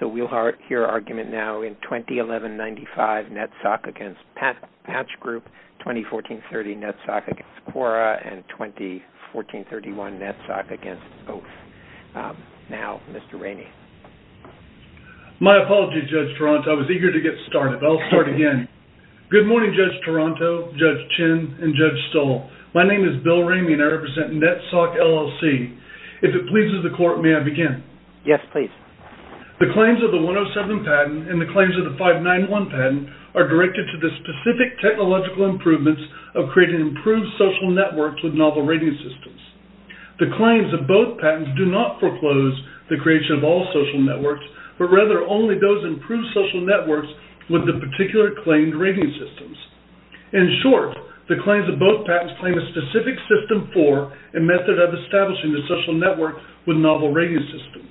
So we'll hear argument now in 2011-95 NETSoc against Patch Group, 2014-30 NETSoc against Quora, and 2014-31 NETSoc against both. Now, Mr. Ramey. My apologies, Judge Toronto. I was eager to get started, but I'll start again. Good morning, Judge Toronto, Judge Chin, and Judge Stoll. My name is Bill Ramey, and I represent NETSoc, LLC. If it pleases the court, may I begin? Yes, please. The claims of the 107 patent and the claims of the 591 patent are directed to the specific technological improvements of creating improved social networks with novel rating systems. The claims of both patents do not foreclose the creation of all social networks, but rather only those improved social networks with the particular claimed rating systems. In short, the claims of both patents claim a specific system for and method of establishing the social network with novel rating systems.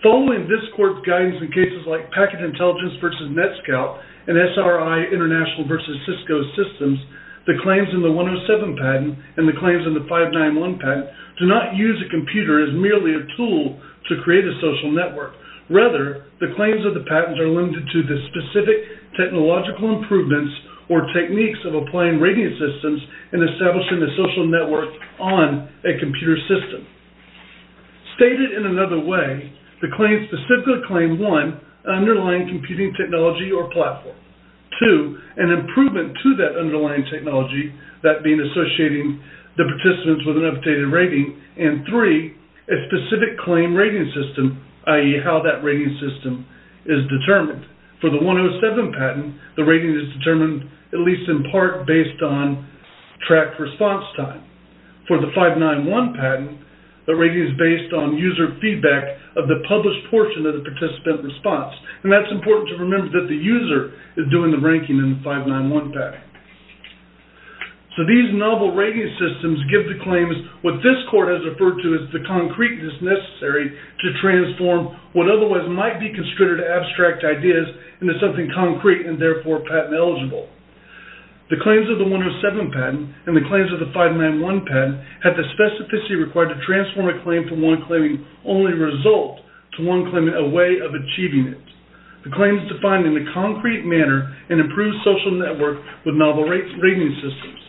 Following this court's guidance in cases like Packet Intelligence v. NETSCOUT and SRI International v. Cisco Systems, the claims in the 107 patent and the claims in the 591 patent do not use a computer as merely a tool to create a social network. Rather, the claims of the patents are limited to the specific technological improvements or techniques of applying rating systems in establishing a social network on a computer system. Stated in another way, the claims specifically claim, one, an underlying computing technology or platform, two, an improvement to that underlying technology, that being associating the participants with an updated rating, and three, a specific claim rating system, i.e., how that rating system is determined. For the 107 patent, the rating is determined at least in part based on tracked response time. For the 591 patent, the rating is based on user feedback of the published portion of the participant response, and that's important to remember that the user is doing the ranking in the 591 patent. So these novel rating systems give the claims what this court has referred to as the concreteness necessary to transform what otherwise might be considered abstract ideas into something concrete and therefore patent eligible. The claims of the 107 patent and the claims of the 591 patent have the specificity required to transform a claim from one claiming only a result to one claiming a way of achieving it. The claim is defined in a concrete manner and improves social network with novel rating systems.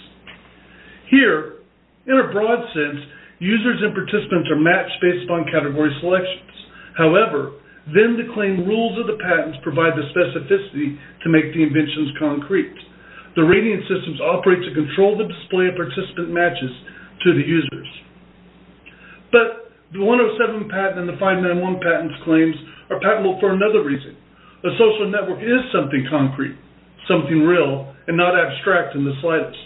Here, in a broad sense, users and participants are matched based on category selections. However, then the claim rules of the patents provide the specificity to make the inventions concrete. The rating systems operate to control the display of participant matches to the users. But the 107 patent and the 591 patent claims are patentable for another reason. A social network is something concrete, something real, and not abstract in the slightest.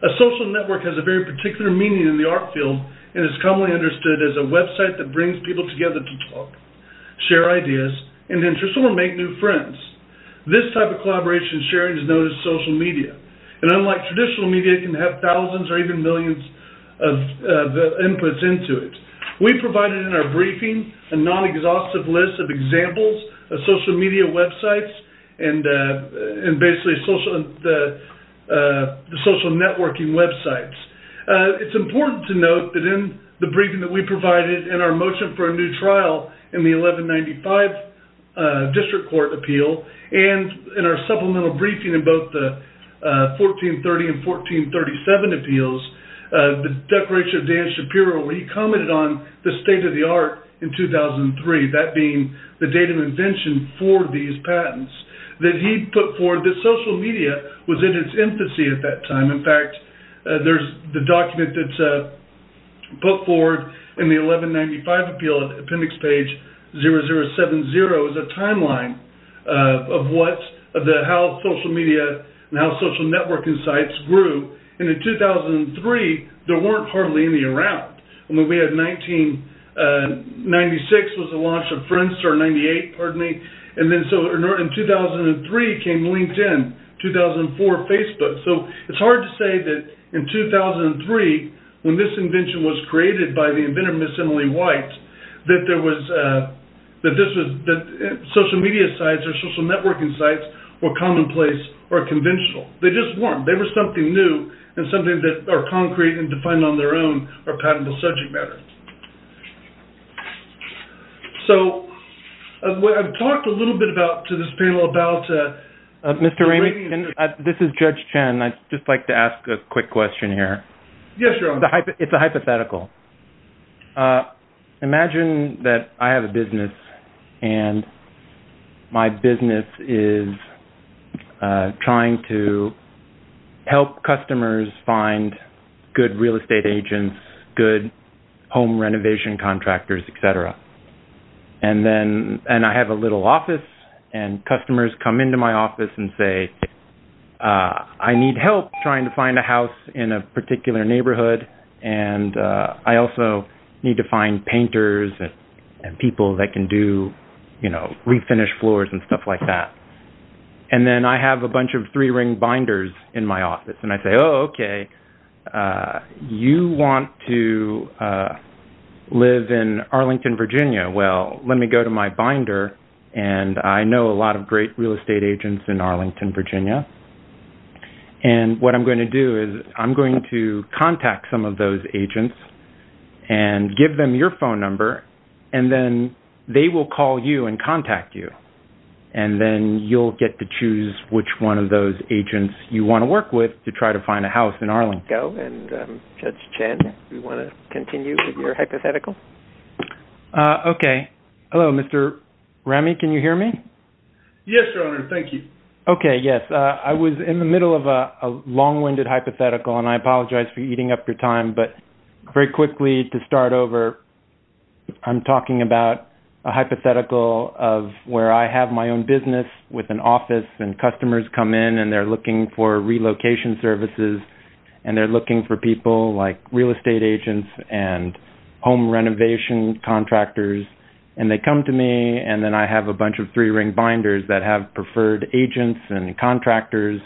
A social network has a very particular meaning in the art field and is commonly understood as a website that brings people together to talk, share ideas, and interest or make new friends. This type of collaboration sharing is known as social media. And unlike traditional media, it can have thousands or even millions of inputs into it. We provided in our briefing a non-exhaustive list of examples of social media websites and basically social networking websites. It's important to note that in the briefing that we provided in our motion for a new trial in the 1195 district court appeal, and in our supplemental briefing in both the 1430 and 1437 appeals, the declaration of Dan Shapiro where he commented on the state of the art in 2003, that being the date of invention for these patents, that he put forward that social media was in its infancy at that time. In fact, there's the document that's put forward in the 1195 appeal, appendix page 0070, is a timeline of how social media and how social networking sites grew. And in 2003, there weren't hardly any around. We had 1996 was the launch of Friendster, 98, pardon me. And then in 2003 came LinkedIn, 2004 Facebook. So it's hard to say that in 2003, when this invention was created by the inventor, Ms. Emily White, that social media sites or social networking sites were commonplace or conventional. They just weren't. They were something new and something that are concrete and defined on their own or patentable subject matter. So I've talked a little bit to this panel about the radio industry. Mr. Ramey, this is Judge Chen. I'd just like to ask a quick question here. Yes, your honor. It's a hypothetical. Imagine that I have a business and my business is trying to help customers find good real estate agents, good home renovation contractors, et cetera. And I have a little office and customers come into my office and say, I need help trying to find a house in a particular neighborhood. And I also need to find painters and people that can do, you know, refinish floors and stuff like that. And then I have a bunch of three ring binders in my office. And I say, oh, OK, you want to live in Arlington, Virginia. Well, let me go to my binder. And I know a lot of great real estate agents in Arlington, Virginia. And what I'm going to do is I'm going to contact some of those agents and give them your phone number. And then they will call you and contact you. And then you'll get to choose which one of those agents you want to work with to try to find a house in Arlington. Judge Chen, do you want to continue with your hypothetical? OK. Hello, Mr. Remy, can you hear me? Yes, Your Honor. Thank you. OK. Yes. I was in the middle of a long winded hypothetical and I apologize for eating up your time. But very quickly to start over. I'm talking about a hypothetical of where I have my own business with an office and customers come in and they're looking for relocation services. And they're looking for people like real estate agents and home renovation contractors. And they come to me and then I have a bunch of three ring binders that have preferred agents and contractors.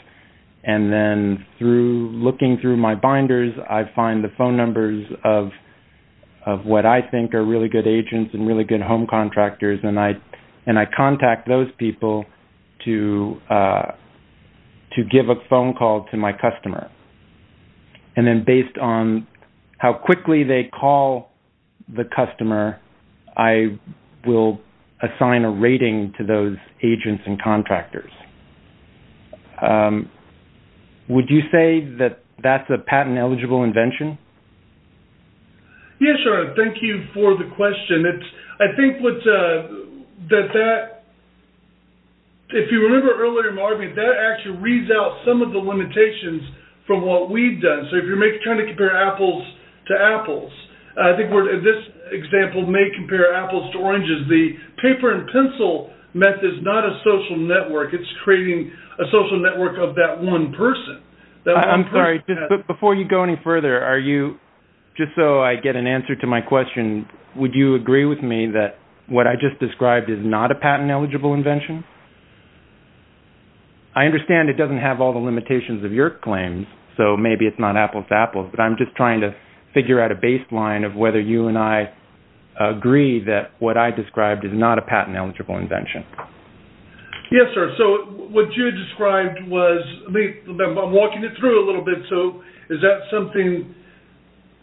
And then through looking through my binders, I find the phone numbers of what I think are really good agents and really good home contractors. And I contact those people to give a phone call to my customer. And then based on how quickly they call the customer, I will assign a rating to those agents and contractors. Would you say that that's a patent eligible invention? Yes, Your Honor. Thank you for the question. I think that that, if you remember earlier in my argument, that actually reads out some of the limitations from what we've done. So if you're trying to compare apples to apples, I think this example may compare apples to oranges. The paper and pencil method is not a social network. It's creating a social network of that one person. I'm sorry, but before you go any further, just so I get an answer to my question, would you agree with me that what I just described is not a patent eligible invention? I understand it doesn't have all the limitations of your claims, so maybe it's not apples to apples, but I'm just trying to figure out a baseline of whether you and I agree that what I described is not a patent eligible invention. Yes, sir. So what you described was, I'm walking it through a little bit. So is that something,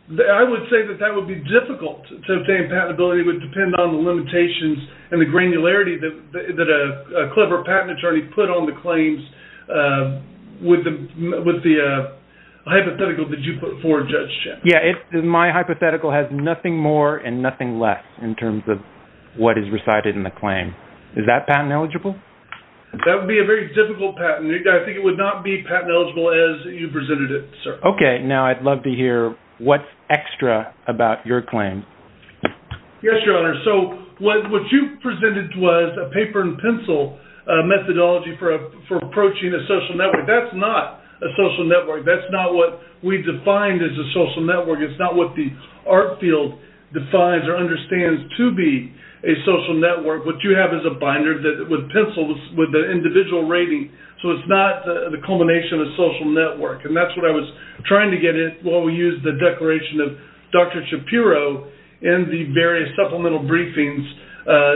I would say that that would be difficult to obtain patentability. It would depend on the limitations and the granularity that a clever patent attorney put on the claims with the hypothetical that you put forward, Judge Chen. Yeah, my hypothetical has nothing more and nothing less in terms of what is recited in the claim. Is that patent eligible? That would be a very difficult patent. I think it would not be patent eligible as you presented it, sir. Okay. Now I'd love to hear what's extra about your claim. Yes, Your Honor. So what you presented was a paper and pencil methodology for approaching a social network. That's not a social network. That's not what we defined as a social network. It's not what the art field defines or understands to be a social network. What you have is a binder with pencils with the individual rating. So it's not the culmination of social network. And that's what I was trying to get at while we used the declaration of Dr. Shapiro in the various supplemental briefings.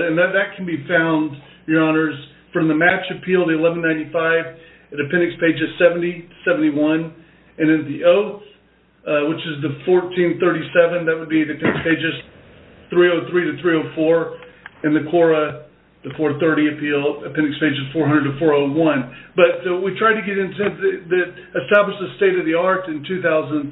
And that can be found, Your Honors, from the Match Appeal, the 1195, the appendix pages 70 to 71. And in the oath, which is the 1437, that would be the appendix pages 303 to 304. In the CORA, the 430 appeal, appendix pages 400 to 401. But we tried to establish the state of the art in 2003 and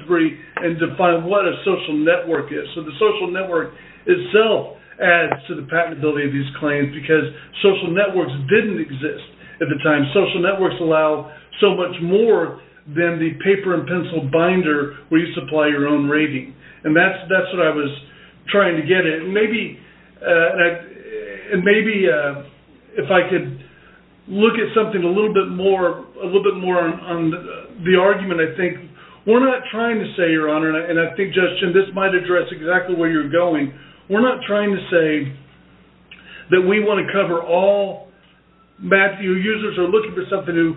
define what a social network is. So the social network itself adds to the patentability of these claims because social networks didn't exist at the time. Social networks allow so much more than the paper and pencil binder where you supply your own rating. And that's what I was trying to get at. And maybe if I could look at something a little bit more on the argument, I think we're not trying to say, Your Honor, and I think, Judge Chin, this might address exactly where you're going. We're not trying to say that we want to cover all. Matthew, users are looking for something who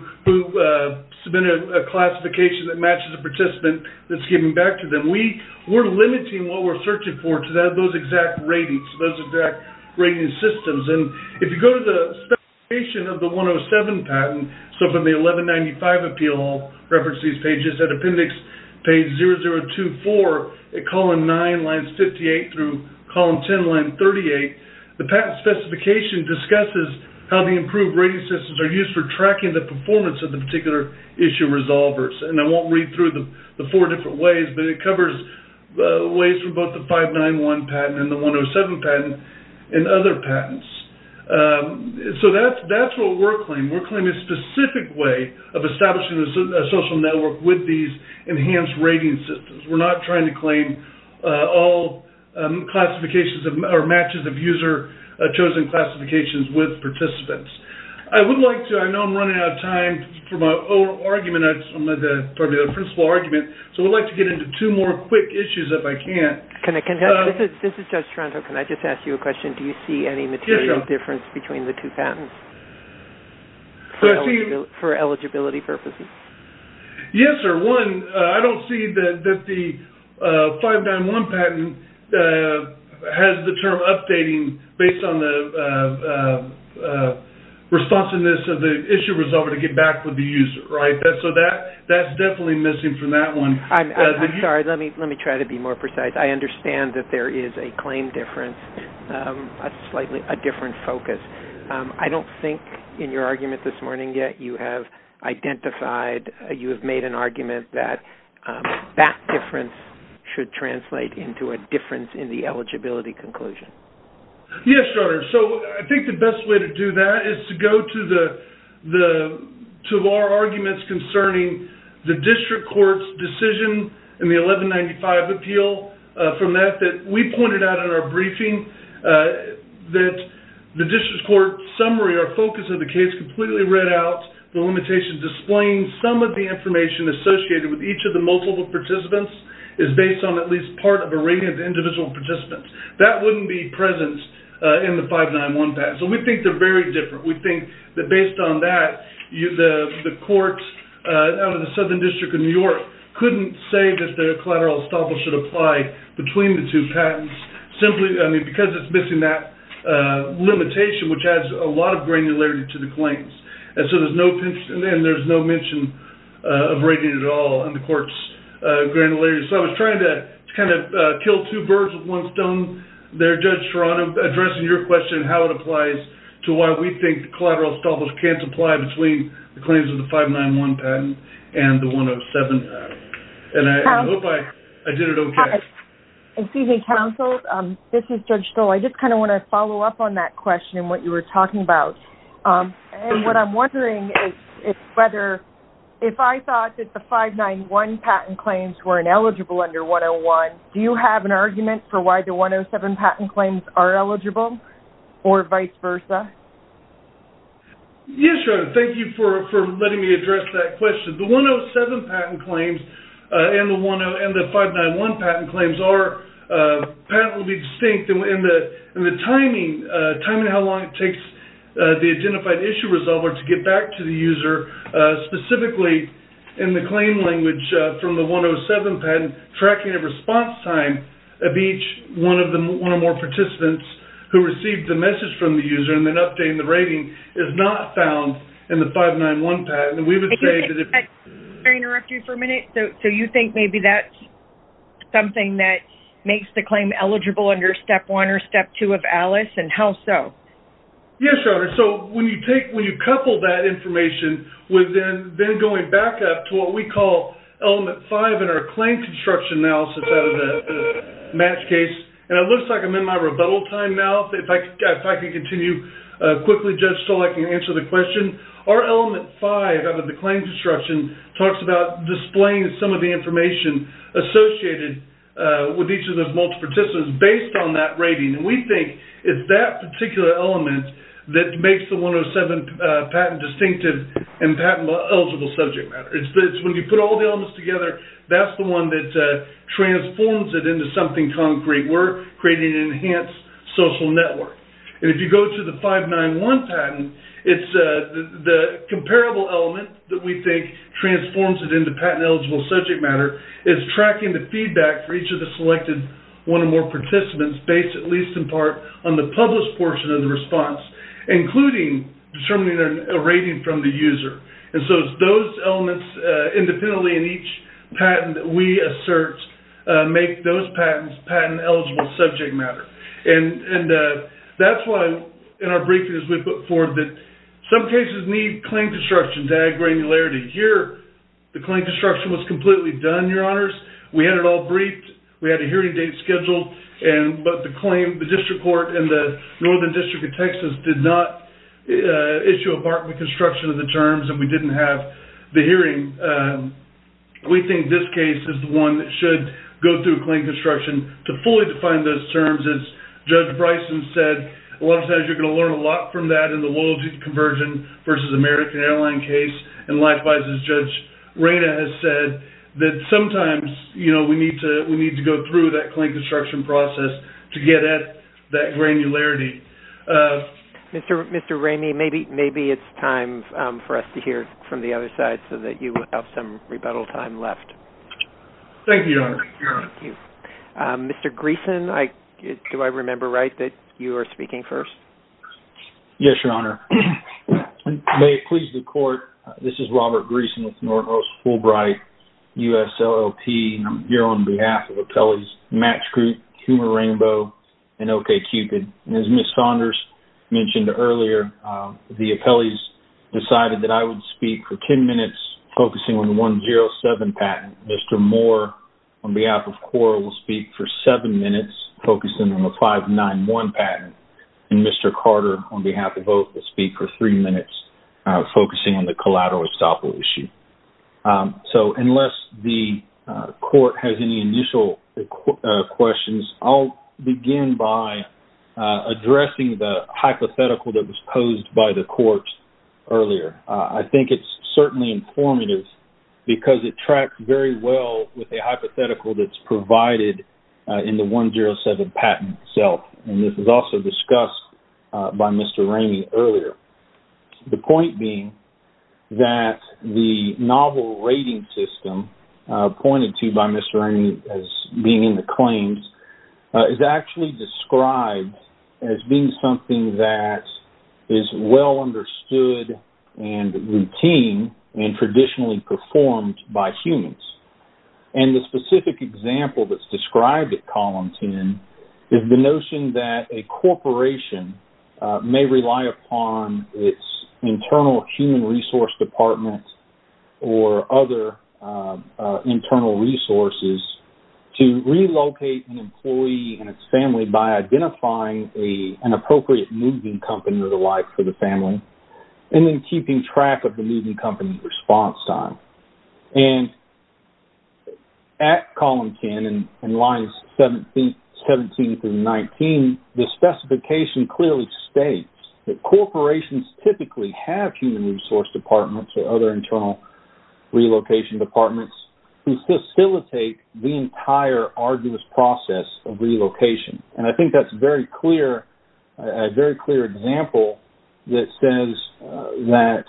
submitted a classification that matches a participant that's given back to them. We're limiting what we're searching for to those exact ratings, those exact rating systems. And if you go to the specification of the 107 patent, so from the 1195 appeal, reference to these pages, appendix page 0024, column 9, line 58 through column 10, line 38, the patent specification discusses how the improved rating systems are used for tracking the performance of the particular issue resolvers. And I won't read through the four different ways, but it covers ways for both the 591 patent and the 107 patent and other patents. So that's what we're claiming. We're claiming a specific way of establishing a social network with these enhanced rating systems. We're not trying to claim all classifications or matches of user-chosen classifications with participants. I would like to, I know I'm running out of time for my argument, the principle argument, so I'd like to get into two more quick issues if I can. This is Judge Toronto. Can I just ask you a question? Do you see any material difference between the two patents for eligibility purposes? Yes, sir. One, I don't see that the 591 patent has the term updating based on the responsiveness of the issue resolver to get back with the user. So that's definitely missing from that one. I'm sorry, let me try to be more precise. I understand that there is a claim difference, a slightly different focus. I don't think in your argument this morning yet you have identified, you have made an argument that that difference should translate into a difference in the eligibility conclusion. Yes, Your Honor. So I think the best way to do that is to go to our arguments concerning the district court's decision in the 1195 appeal. From that, we pointed out in our briefing that the district court summary, our focus of the case, completely read out the limitations displaying some of the information associated with each of the multiple participants is based on at least part of a rating of the individual participants. That wouldn't be present in the 591 patent. So we think they're very different. We think that based on that, the courts out of the Southern District of New York couldn't say that the collateral estoppel should apply between the two patents simply because it's missing that limitation, which adds a lot of granularity to the claims. And so there's no mention of rating at all in the court's granularity. So I was trying to kind of kill two birds with one stone there, Judge Serrano, addressing your question how it applies to why we think collateral estoppel can't apply between the claims of the 591 patent and the 107 patent. And I hope I did it okay. Excuse me, counsel. This is Judge Stoll. I just kind of want to follow up on that question and what you were talking about. And what I'm wondering is whether if I thought that the 591 patent claims were ineligible under 101, do you have an argument for why the 107 patent claims are eligible or vice versa? Yes, Your Honor. Thank you for letting me address that question. The 107 patent claims and the 591 patent claims are patentally distinct. In the timing of how long it takes the identified issue resolver to get back to the user, specifically in the claim language from the 107 patent, tracking of response time of each one or more participants who received the message from the user and then updating the rating is not found in the 591 patent. May I interrupt you for a minute? So you think maybe that's something that makes the claim eligible under Step 1 or Step 2 of ALICE, and how so? Yes, Your Honor. So when you couple that information with then going back up to what we call Element 5 in our claim construction analysis out of the match case, and it looks like I'm in my rebuttal time now. If I can continue quickly, Judge Stoll, I can answer the question. Our Element 5 out of the claim construction talks about displaying some of the information associated with each of those multiple participants based on that rating. We think it's that particular element that makes the 107 patent distinctive and patent-eligible subject matter. It's when you put all the elements together, that's the one that transforms it into something concrete. We're creating an enhanced social network. If you go to the 591 patent, it's the comparable element that we think transforms it into patent-eligible subject matter. It's tracking the feedback for each of the selected one or more participants based, at least in part, on the published portion of the response, including determining a rating from the user. So it's those elements independently in each patent that we assert make those patents patent-eligible subject matter. That's why, in our briefings, we put forward that some cases need claim construction to add granularity. Here, the claim construction was completely done, Your Honors. We had it all briefed. We had a hearing date scheduled. But the District Court and the Northern District of Texas did not issue a part of the construction of the terms, and we didn't have the hearing. We think this case is the one that should go through claim construction to fully define those terms. As Judge Bryson said, a lot of times you're going to learn a lot from that in the loyalty to conversion versus American Airlines case. And likewise, as Judge Reyna has said, that sometimes we need to go through that claim construction process to get at that granularity. Mr. Ramey, maybe it's time for us to hear from the other side so that you have some rebuttal time left. Thank you, Your Honor. Mr. Greeson, do I remember right that you are speaking first? Yes, Your Honor. May it please the Court, this is Robert Greeson with Northwest Fulbright USLLP. I'm here on behalf of Atele's Match Group, Humor Rainbow, and OkCupid. As Ms. Saunders mentioned earlier, the Atele's decided that I would speak for 10 minutes, focusing on the 107 patent. Mr. Moore, on behalf of Quora, will speak for seven minutes, focusing on the 591 patent. And Mr. Carter, on behalf of Oak, will speak for three minutes, focusing on the collateral estoppel issue. So, unless the Court has any initial questions, I'll begin by addressing the hypothetical that was posed by the Court earlier. I think it's certainly informative because it tracks very well with the hypothetical that's provided in the 107 patent itself. And this was also discussed by Mr. Ramey earlier. The point being that the novel rating system, pointed to by Mr. Ramey as being in the claims, is actually described as being something that is well understood and routine and traditionally performed by humans. And the specific example that's described at Column 10 is the notion that a corporation may rely upon its internal human resource department or other internal resources to relocate an employee and its family by identifying an appropriate moving company or the like for the family and then keeping track of the moving company's response time. And at Column 10, in lines 17 through 19, the specification clearly states that corporations typically have human resource departments or other internal relocation departments to facilitate the entire arduous process of relocation. And I think that's a very clear example that says that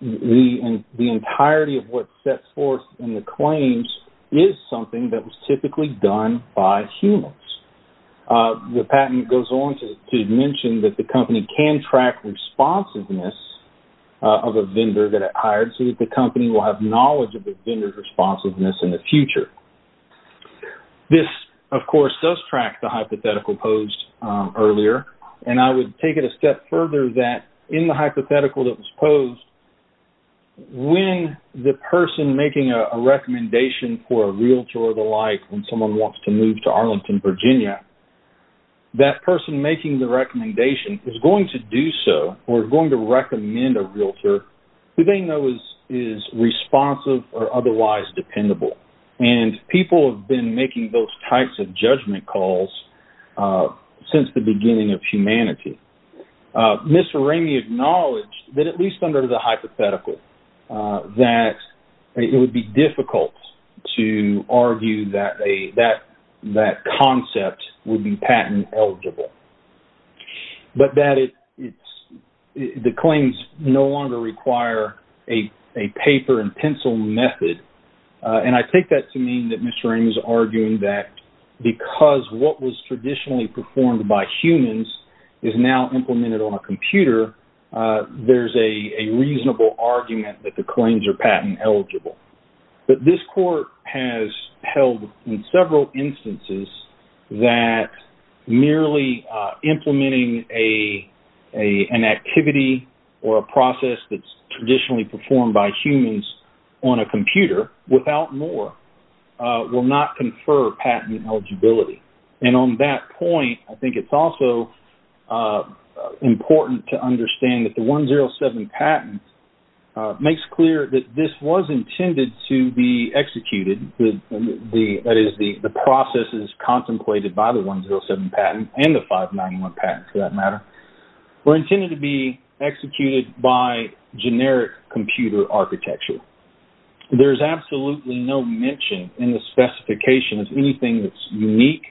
the entirety of what's set forth in the claims is something that was typically done by humans. The patent goes on to mention that the company can track responsiveness of a vendor that it hired so that the company will have knowledge of the vendor's responsiveness in the future. This, of course, does track the hypothetical posed earlier. And I would take it a step further that in the hypothetical that was posed, when the person making a recommendation for a realtor or the like when someone wants to move to Arlington, Virginia, that person making the recommendation is going to do so or going to recommend a realtor who they know is responsive or otherwise dependable. And people have been making those types of judgment calls since the beginning of humanity. Mr. Ramey acknowledged that at least under the hypothetical that it would be difficult to argue that that concept would be patent eligible. But that the claims no longer require a paper and pencil method. And I take that to mean that Mr. Ramey is arguing that because what was traditionally performed by humans is now implemented on a computer, there's a reasonable argument that the claims are patent eligible. But this court has held in several instances that merely implementing an activity or a process that's traditionally performed by humans on a computer, without more, will not confer patent eligibility. And on that point, I think it's also important to understand that the 107 patent makes clear that this was intended to be executed. That is, the process is contemplated by the 107 patent and the 591 patent, for that matter, were intended to be executed by generic computer architecture. There's absolutely no mention in the specification of anything that's unique.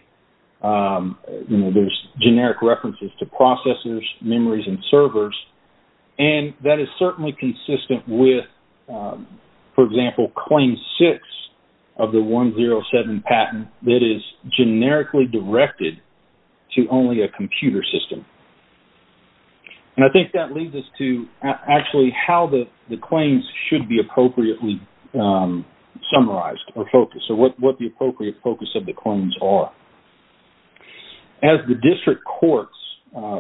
There's generic references to processors, memories, and servers. And that is certainly consistent with, for example, Claim 6 of the 107 patent that is generically directed to only a computer system. And I think that leads us to actually how the claims should be appropriately summarized or focused, or what the appropriate focus of the claims are. As the district courts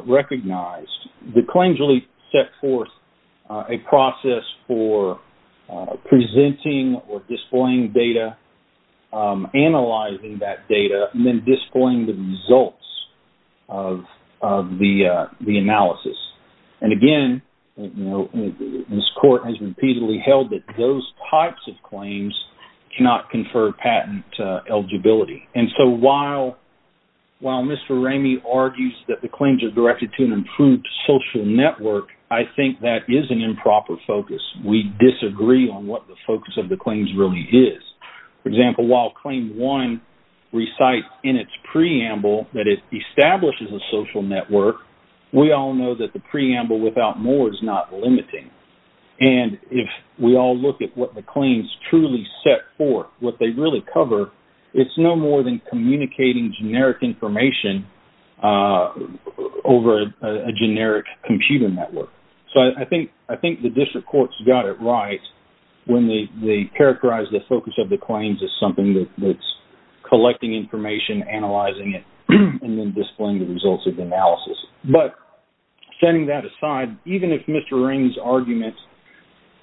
recognized, the claims really set forth a process for presenting or displaying data, analyzing that data, and then displaying the results of the analysis. And again, this court has repeatedly held that those types of claims cannot confer patent eligibility. And so while Mr. Ramey argues that the claims are directed to an improved social network, I think that is an improper focus. We disagree on what the focus of the claims really is. For example, while Claim 1 recites in its preamble that it establishes a social network, we all know that the preamble without more is not limiting. And if we all look at what the claims truly set forth, what they really cover, it's no more than communicating generic information over a generic computer network. So I think the district courts got it right when they characterized the focus of the claims as something that's collecting information, analyzing it, and then displaying the results of the analysis. But setting that aside, even if Mr. Ramey's arguments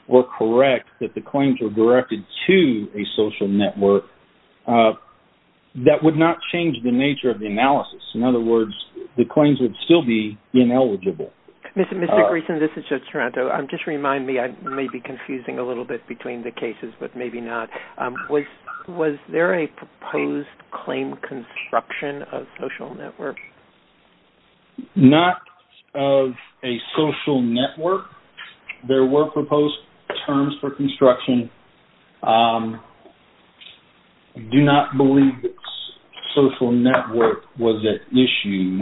were correct, that the claims were directed to a social network, that would not change the nature of the analysis. In other words, the claims would still be ineligible. Mr. Greeson, this is Judge Toronto. Just remind me. I may be confusing a little bit between the cases, but maybe not. Was there a proposed claim construction of social network? Not of a social network. There were proposed terms for construction. I do not believe that social network was at issue.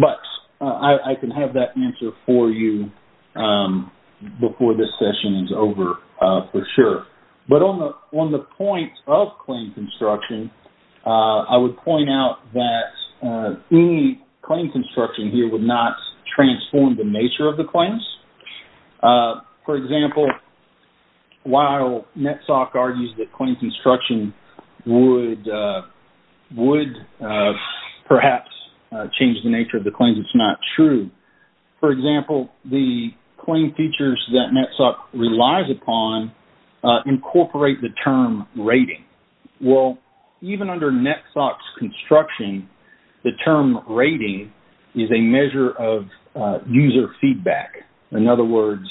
But I can have that answer for you before this session is over for sure. But on the point of claim construction, I would point out that any claim construction here would not transform the nature of the claims. For example, while NETSOC argues that claim construction would perhaps change the nature of the claims, it's not true. For example, the claim features that NETSOC relies upon incorporate the term rating. Even under NETSOC's construction, the term rating is a measure of user feedback. In other words,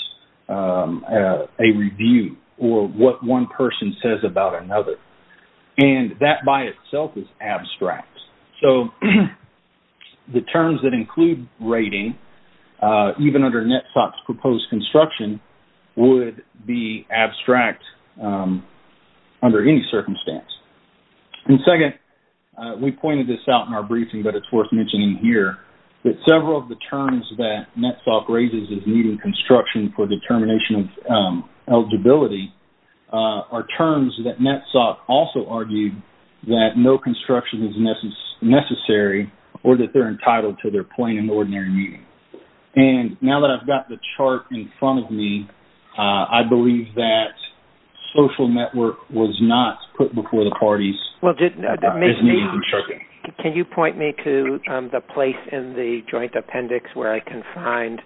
a review or what one person says about another. The terms that include rating, even under NETSOC's proposed construction, would be abstract under any circumstance. Second, we pointed this out in our briefing, but it's worth mentioning here, that several of the terms that NETSOC raises as needing construction for determination of eligibility are terms that NETSOC also argued that no construction is necessary or that they're entitled to their plain and ordinary meaning. And now that I've got the chart in front of me, I believe that social network was not put before the parties. Can you point me to the place in the joint appendix where I can find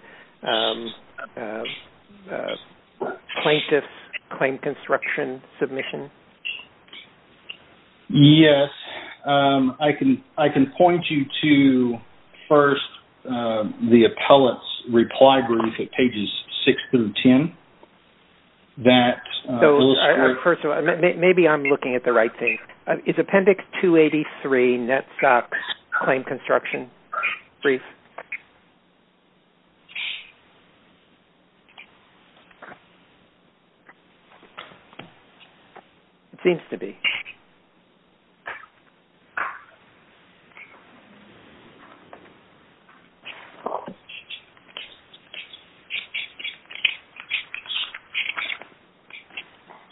plaintiff's claim construction submission? Yes. I can point you to, first, the appellate's reply brief at pages 6 through 10. First of all, maybe I'm looking at the right thing. Is appendix 283 NETSOC's claim construction brief? It seems to be.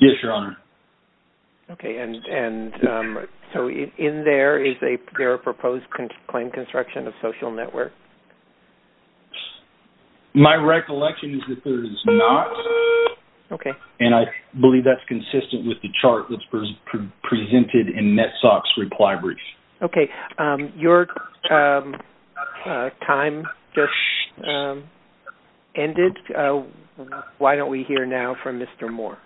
Yes, Your Honor. Okay. And so in there, is there a proposed claim construction of social network? My recollection is that there is not. Okay. And I believe that's consistent with the chart that's presented in NETSOC's reply brief. Okay. Your time just ended. Why don't we hear now from Mr. Moore?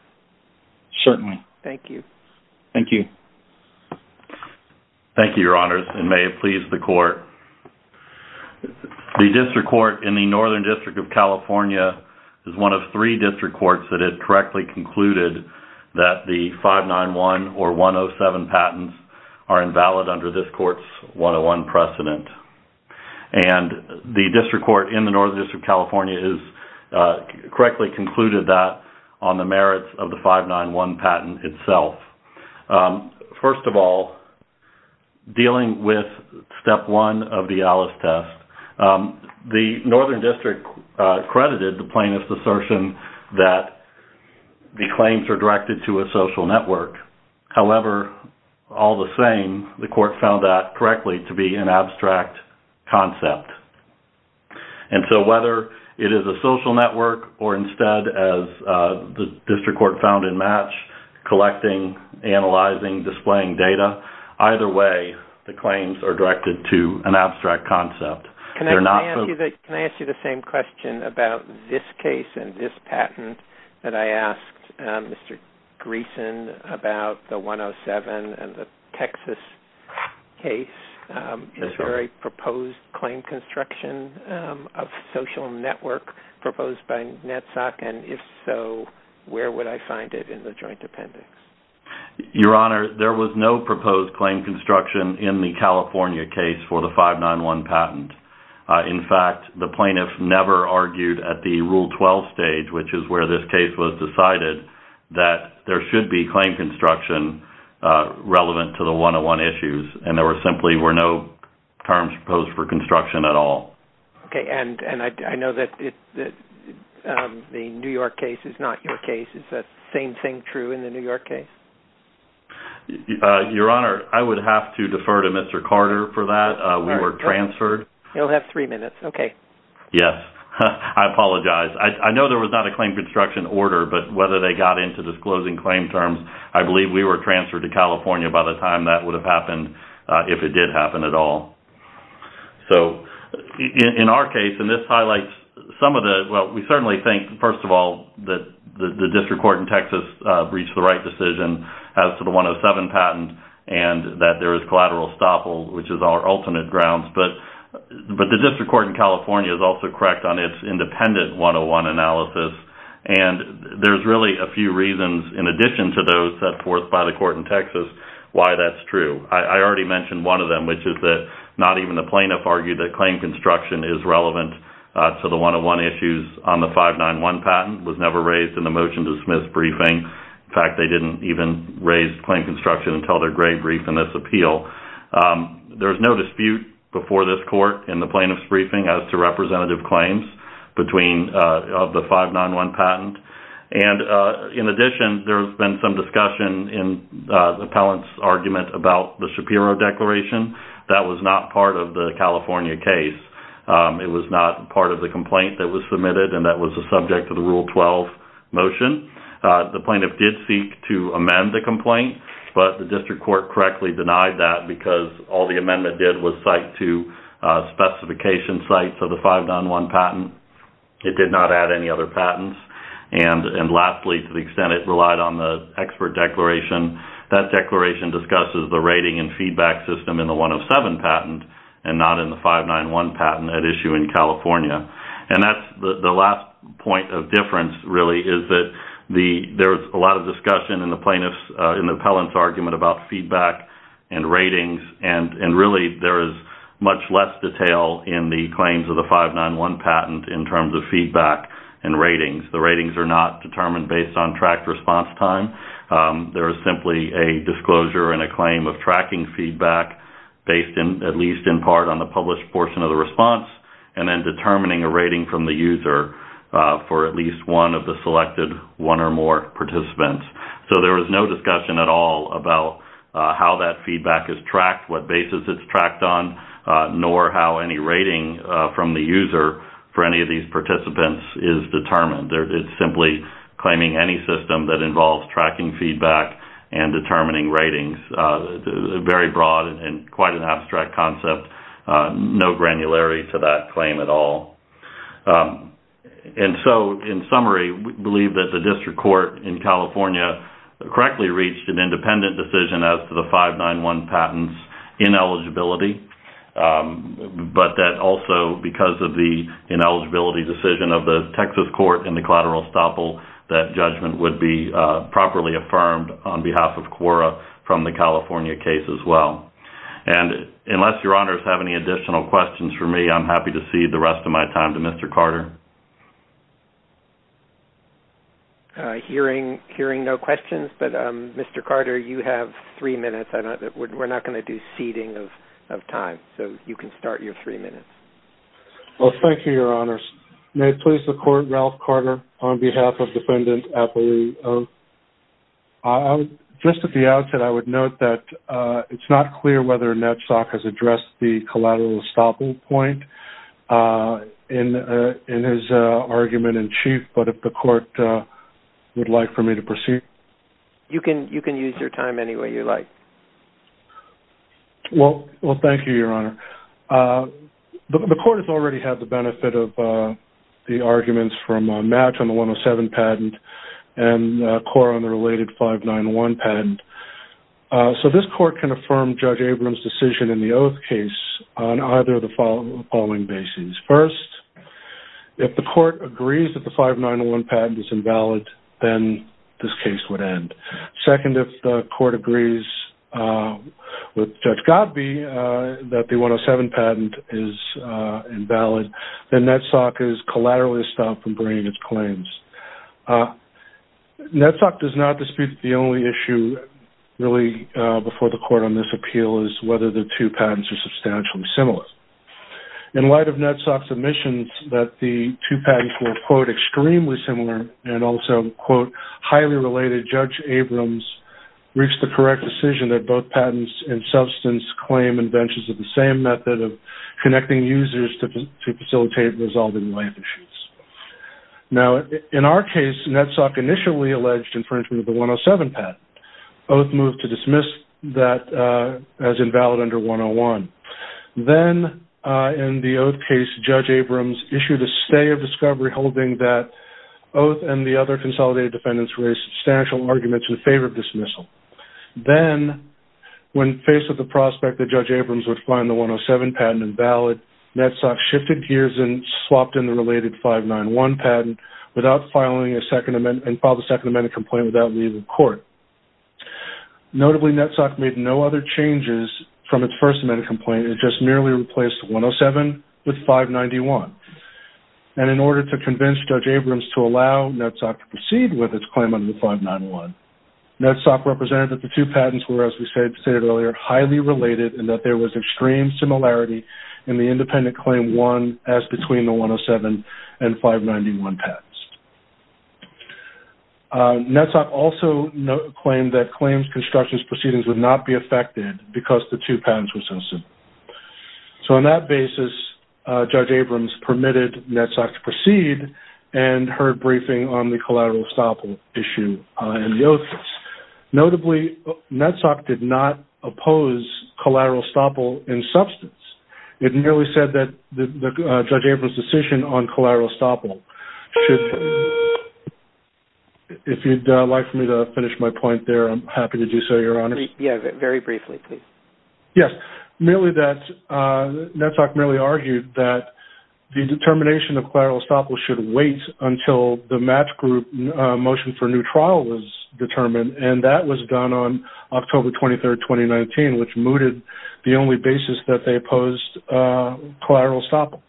Certainly. Thank you. Thank you. Thank you, Your Honors, and may it please the Court. The district court in the Northern District of California is one of three district courts that have correctly concluded that the 591 or 107 patents are invalid under this court's 101 precedent. And the district court in the Northern District of California has correctly concluded that on the merits of the 591 patent itself. First of all, dealing with step one of the ALICE test, the Northern District credited the plaintiff's assertion that the claims are directed to a social network. However, all the same, the court found that correctly to be an abstract concept. And so whether it is a social network or instead, as the district court found in MATCH, collecting, analyzing, displaying data, either way, the claims are directed to an abstract concept. Can I ask you the same question about this case and this patent that I asked Mr. Greeson about the 107 and the Texas case? Is there a proposed claim construction of social network proposed by NETSOC? And if so, where would I find it in the joint appendix? Your Honor, there was no proposed claim construction in the California case for the 591 patent. In fact, the plaintiff never argued at the Rule 12 stage, which is where this case was decided, that there should be claim construction relevant to the 101 issues. And there simply were no terms proposed for construction at all. Okay. And I know that the New York case is not your case. Is that same thing true in the New York case? Your Honor, I would have to defer to Mr. Carter for that. We were transferred. You'll have three minutes. Okay. Yes. I apologize. I know there was not a claim construction order, but whether they got into disclosing claim terms, I believe we were transferred to California by the time that would have happened, if it did happen at all. So, in our case, and this highlights some of the, well, we certainly think, first of all, that the district court in Texas reached the right decision as to the 107 patent, and that there is collateral estoppel, which is our ultimate grounds. But the district court in California is also correct on its independent 101 analysis. And there's really a few reasons, in addition to those set forth by the court in Texas, why that's true. I already mentioned one of them, which is that not even the plaintiff argued that claim construction is relevant to the 101 issues on the 591 patent. It was never raised in the motion-to-dismiss briefing. In fact, they didn't even raise claim construction until their grade brief in this appeal. There's no dispute before this court in the plaintiff's briefing as to representative claims of the 591 patent. And, in addition, there's been some discussion in the appellant's argument about the Shapiro declaration. That was not part of the California case. It was not part of the complaint that was submitted, and that was the subject of the Rule 12 motion. The plaintiff did seek to amend the complaint, but the district court correctly denied that because all the amendment did was cite to And lastly, to the extent it relied on the expert declaration, that declaration discusses the rating and feedback system in the 107 patent and not in the 591 patent at issue in California. And that's the last point of difference, really, is that there's a lot of discussion in the plaintiff's, in the appellant's argument about feedback and ratings, and really there is much less detail in the claims of the 591 patent in terms of feedback and ratings. The ratings are not determined based on tracked response time. There is simply a disclosure and a claim of tracking feedback based, at least in part, on the published portion of the response, and then determining a rating from the user for at least one of the selected one or more participants. So there is no discussion at all about how that feedback is tracked, what basis it's tracked on, nor how any rating from the user for any of these participants is determined. It's simply claiming any system that involves tracking feedback and determining ratings. Very broad and quite an abstract concept. No granularity to that claim at all. And so, in summary, we believe that the district court in California correctly reached an independent decision as to the 591 patent's ineligibility. But that also, because of the ineligibility decision of the Texas court in the collateral estoppel, that judgment would be properly affirmed on behalf of CORA from the California case as well. And unless your honors have any additional questions for me, I'm happy to cede the rest of my time to Mr. Carter. Hearing no questions, but Mr. Carter, you have three minutes. We're not going to do ceding of time, so you can start your three minutes. Well, thank you, your honors. May it please the court, Ralph Carter on behalf of Defendant Appolio. Just at the outset, I would note that it's not clear whether NEDSOC has addressed the collateral estoppel point in his argument in chief, but if the court would like for me to proceed. You can use your time any way you like. Well, thank you, your honor. The court has already had the benefit of the arguments from Matt on the 107 patent and CORA on the related 591 patent. So this court can affirm Judge Abrams' decision in the oath case on either of the following bases. First, if the court agrees that the 591 patent is invalid, then this case would end. Second, if the court agrees with Judge Godbee that the 107 patent is invalid, then NEDSOC is collateral estoppel from bringing its claims. NEDSOC does not dispute the only issue really before the court on this appeal is whether the two patents are substantially similar. In light of NEDSOC's admissions that the two patents were, quote, the judge Abrams reached the correct decision that both patents and substance claim inventions of the same method of connecting users to facilitate resolving life issues. Now, in our case, NEDSOC initially alleged infringement of the 107 patent. Oath moved to dismiss that as invalid under 101. Then, in the oath case, Judge Abrams issued a stay of discovery holding that the oath and the other consolidated defendants raised substantial arguments in favor of dismissal. Then, when faced with the prospect that Judge Abrams would find the 107 patent invalid, NEDSOC shifted gears and swapped in the related 591 patent without filing a second amendment and filed a second amendment complaint without leaving court. Notably, NEDSOC made no other changes from its first amendment complaint. It just merely replaced 107 with 591. In order to convince Judge Abrams to allow NEDSOC to proceed with its claim under 591, NEDSOC represented that the two patents were, as we stated earlier, highly related and that there was extreme similarity in the independent claim one as between the 107 and 591 patents. NEDSOC also claimed that claims, constructions, proceedings would not be affected because the two patents were so similar. On that basis, Judge Abrams permitted NEDSOC to proceed and heard briefing on the collateral estoppel issue in the oath case. Notably, NEDSOC did not oppose collateral estoppel in substance. It merely said that Judge Abrams' decision on collateral estoppel should... If you'd like for me to finish my point there, I'm happy to do so, Your Honor. Very briefly, please. Yes. NEDSOC merely argued that the determination of collateral estoppel should wait until the match group motion for new trial was determined, and that was done on October 23rd, 2019, which mooted the only basis that they opposed collateral estoppel.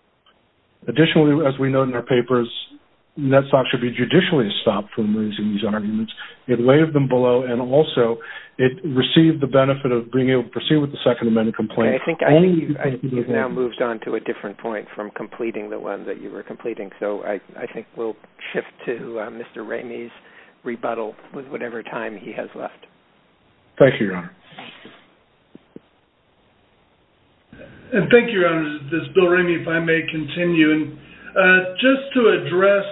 Additionally, as we note in our papers, NEDSOC should be judicially stopped from raising these arguments. It waived them below, and also it received the benefit of being able to proceed with the Second Amendment complaint. I think you've now moved on to a different point from completing the one that you were completing, so I think we'll shift to Mr. Ramey's rebuttal with whatever time he has left. Thank you, Your Honor. Thank you. And thank you, Your Honor. This is Bill Ramey, if I may continue. Just to address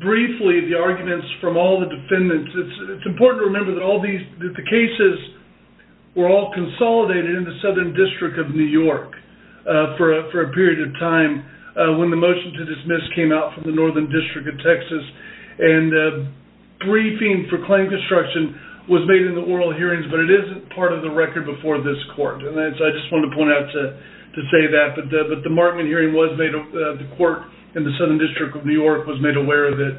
briefly the arguments from all the defendants, it's important to remember that the cases were all consolidated in the Southern District of New York for a period of time when the motion to dismiss came out from the Northern District of Texas, and briefing for claim construction was made in the oral hearings, but it isn't part of the record before this court, and so I just wanted to point out to say that, but the Markman hearing was made, the court in the Southern District of New York was made aware of it.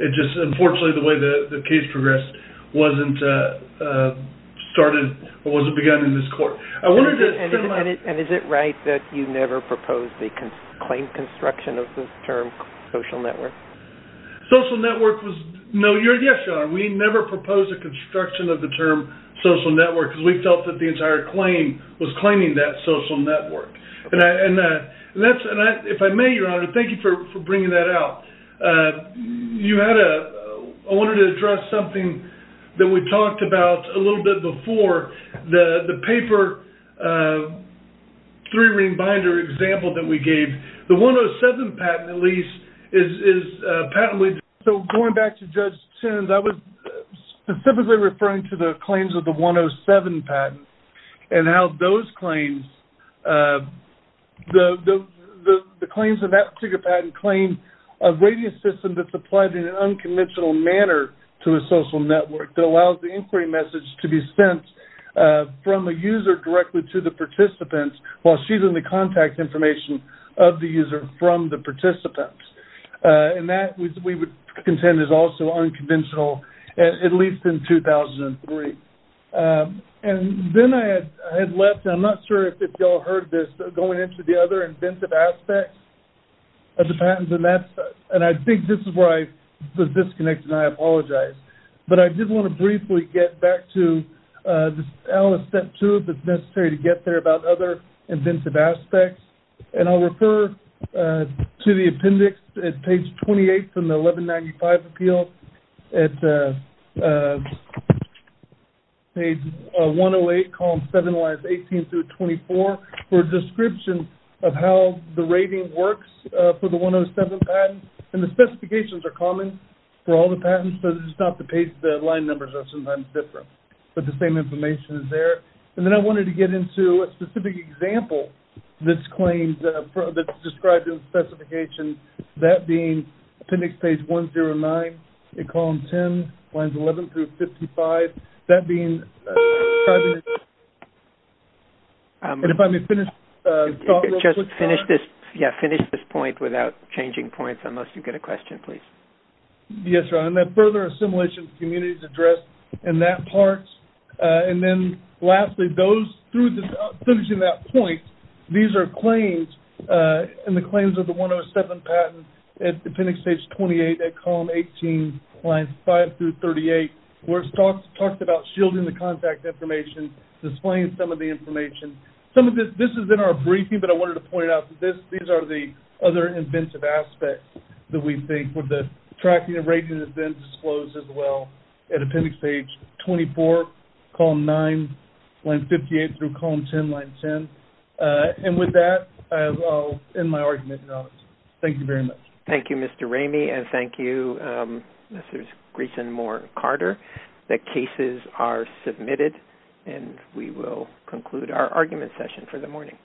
It just, unfortunately, the way the case progressed wasn't started or wasn't begun in this court. And is it right that you never proposed the claim construction of the term social network? Social network was, no, yes, Your Honor, we never proposed the construction of the term social network because we felt that the entire claim was claiming that social network. And that's, if I may, Your Honor, thank you for bringing that out. You had a, I wanted to address something that we talked about a little bit before, the paper three-ring binder example that we gave. The 107 patent, at least, is a patent with, so going back to Judge Sins, I was specifically referring to the claims of the 107 patent and how those claims, the claims of that particular patent claim a radio system that's applied in an unconventional manner to a social network that allows the inquiry message to be sent from a user directly to the participants while she's in the contact information of the user from the participants. And that, we would contend, is also unconventional, at least in 2003. And then I had left, and I'm not sure if y'all heard this, going into the other inventive aspects of the patents, and that's, and I think this is where I was disconnected, and I apologize. But I did want to briefly get back to, this is element of step two, if it's necessary to get there, about other inventive aspects. And I'll refer to the appendix at page 28 from the 1195 appeal at page 108, column 7, lines 18 through 24, for a description of how the rating works for the 107 patent. And the specifications are common for all the patents, but it's just not the page, the line numbers are sometimes different. But the same information is there. And then I wanted to get into a specific example that's claimed, that's described in the specification, that being appendix page 109 at column 10, lines 11 through 55, that being... And if I may finish... Just finish this, yeah, finish this point without changing points, unless you get a question, please. Yes, Ron, and that further assimilation of communities addressed in that part. And then lastly, those, finishing that point, these are claims, and the claims of the 107 patent at appendix page 28 at column 18, lines 5 through 38, where it's talked about shielding the contact information, displaying some of the information. Some of this, this is in our briefing, but I wanted to point out that this, these are the other inventive aspects that we think with the tracking and rating has been disclosed as well at appendix page 24, column 9, line 58 through column 10, line 10. And with that, I'll end my argument. Thank you very much. Thank you, Mr. Ramey, Mr. Greyson Moore-Carter. The cases are submitted, and we will conclude our argument session for the morning.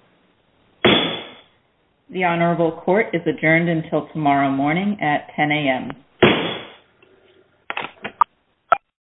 The Honorable Court is adjourned until tomorrow morning at 10 a.m.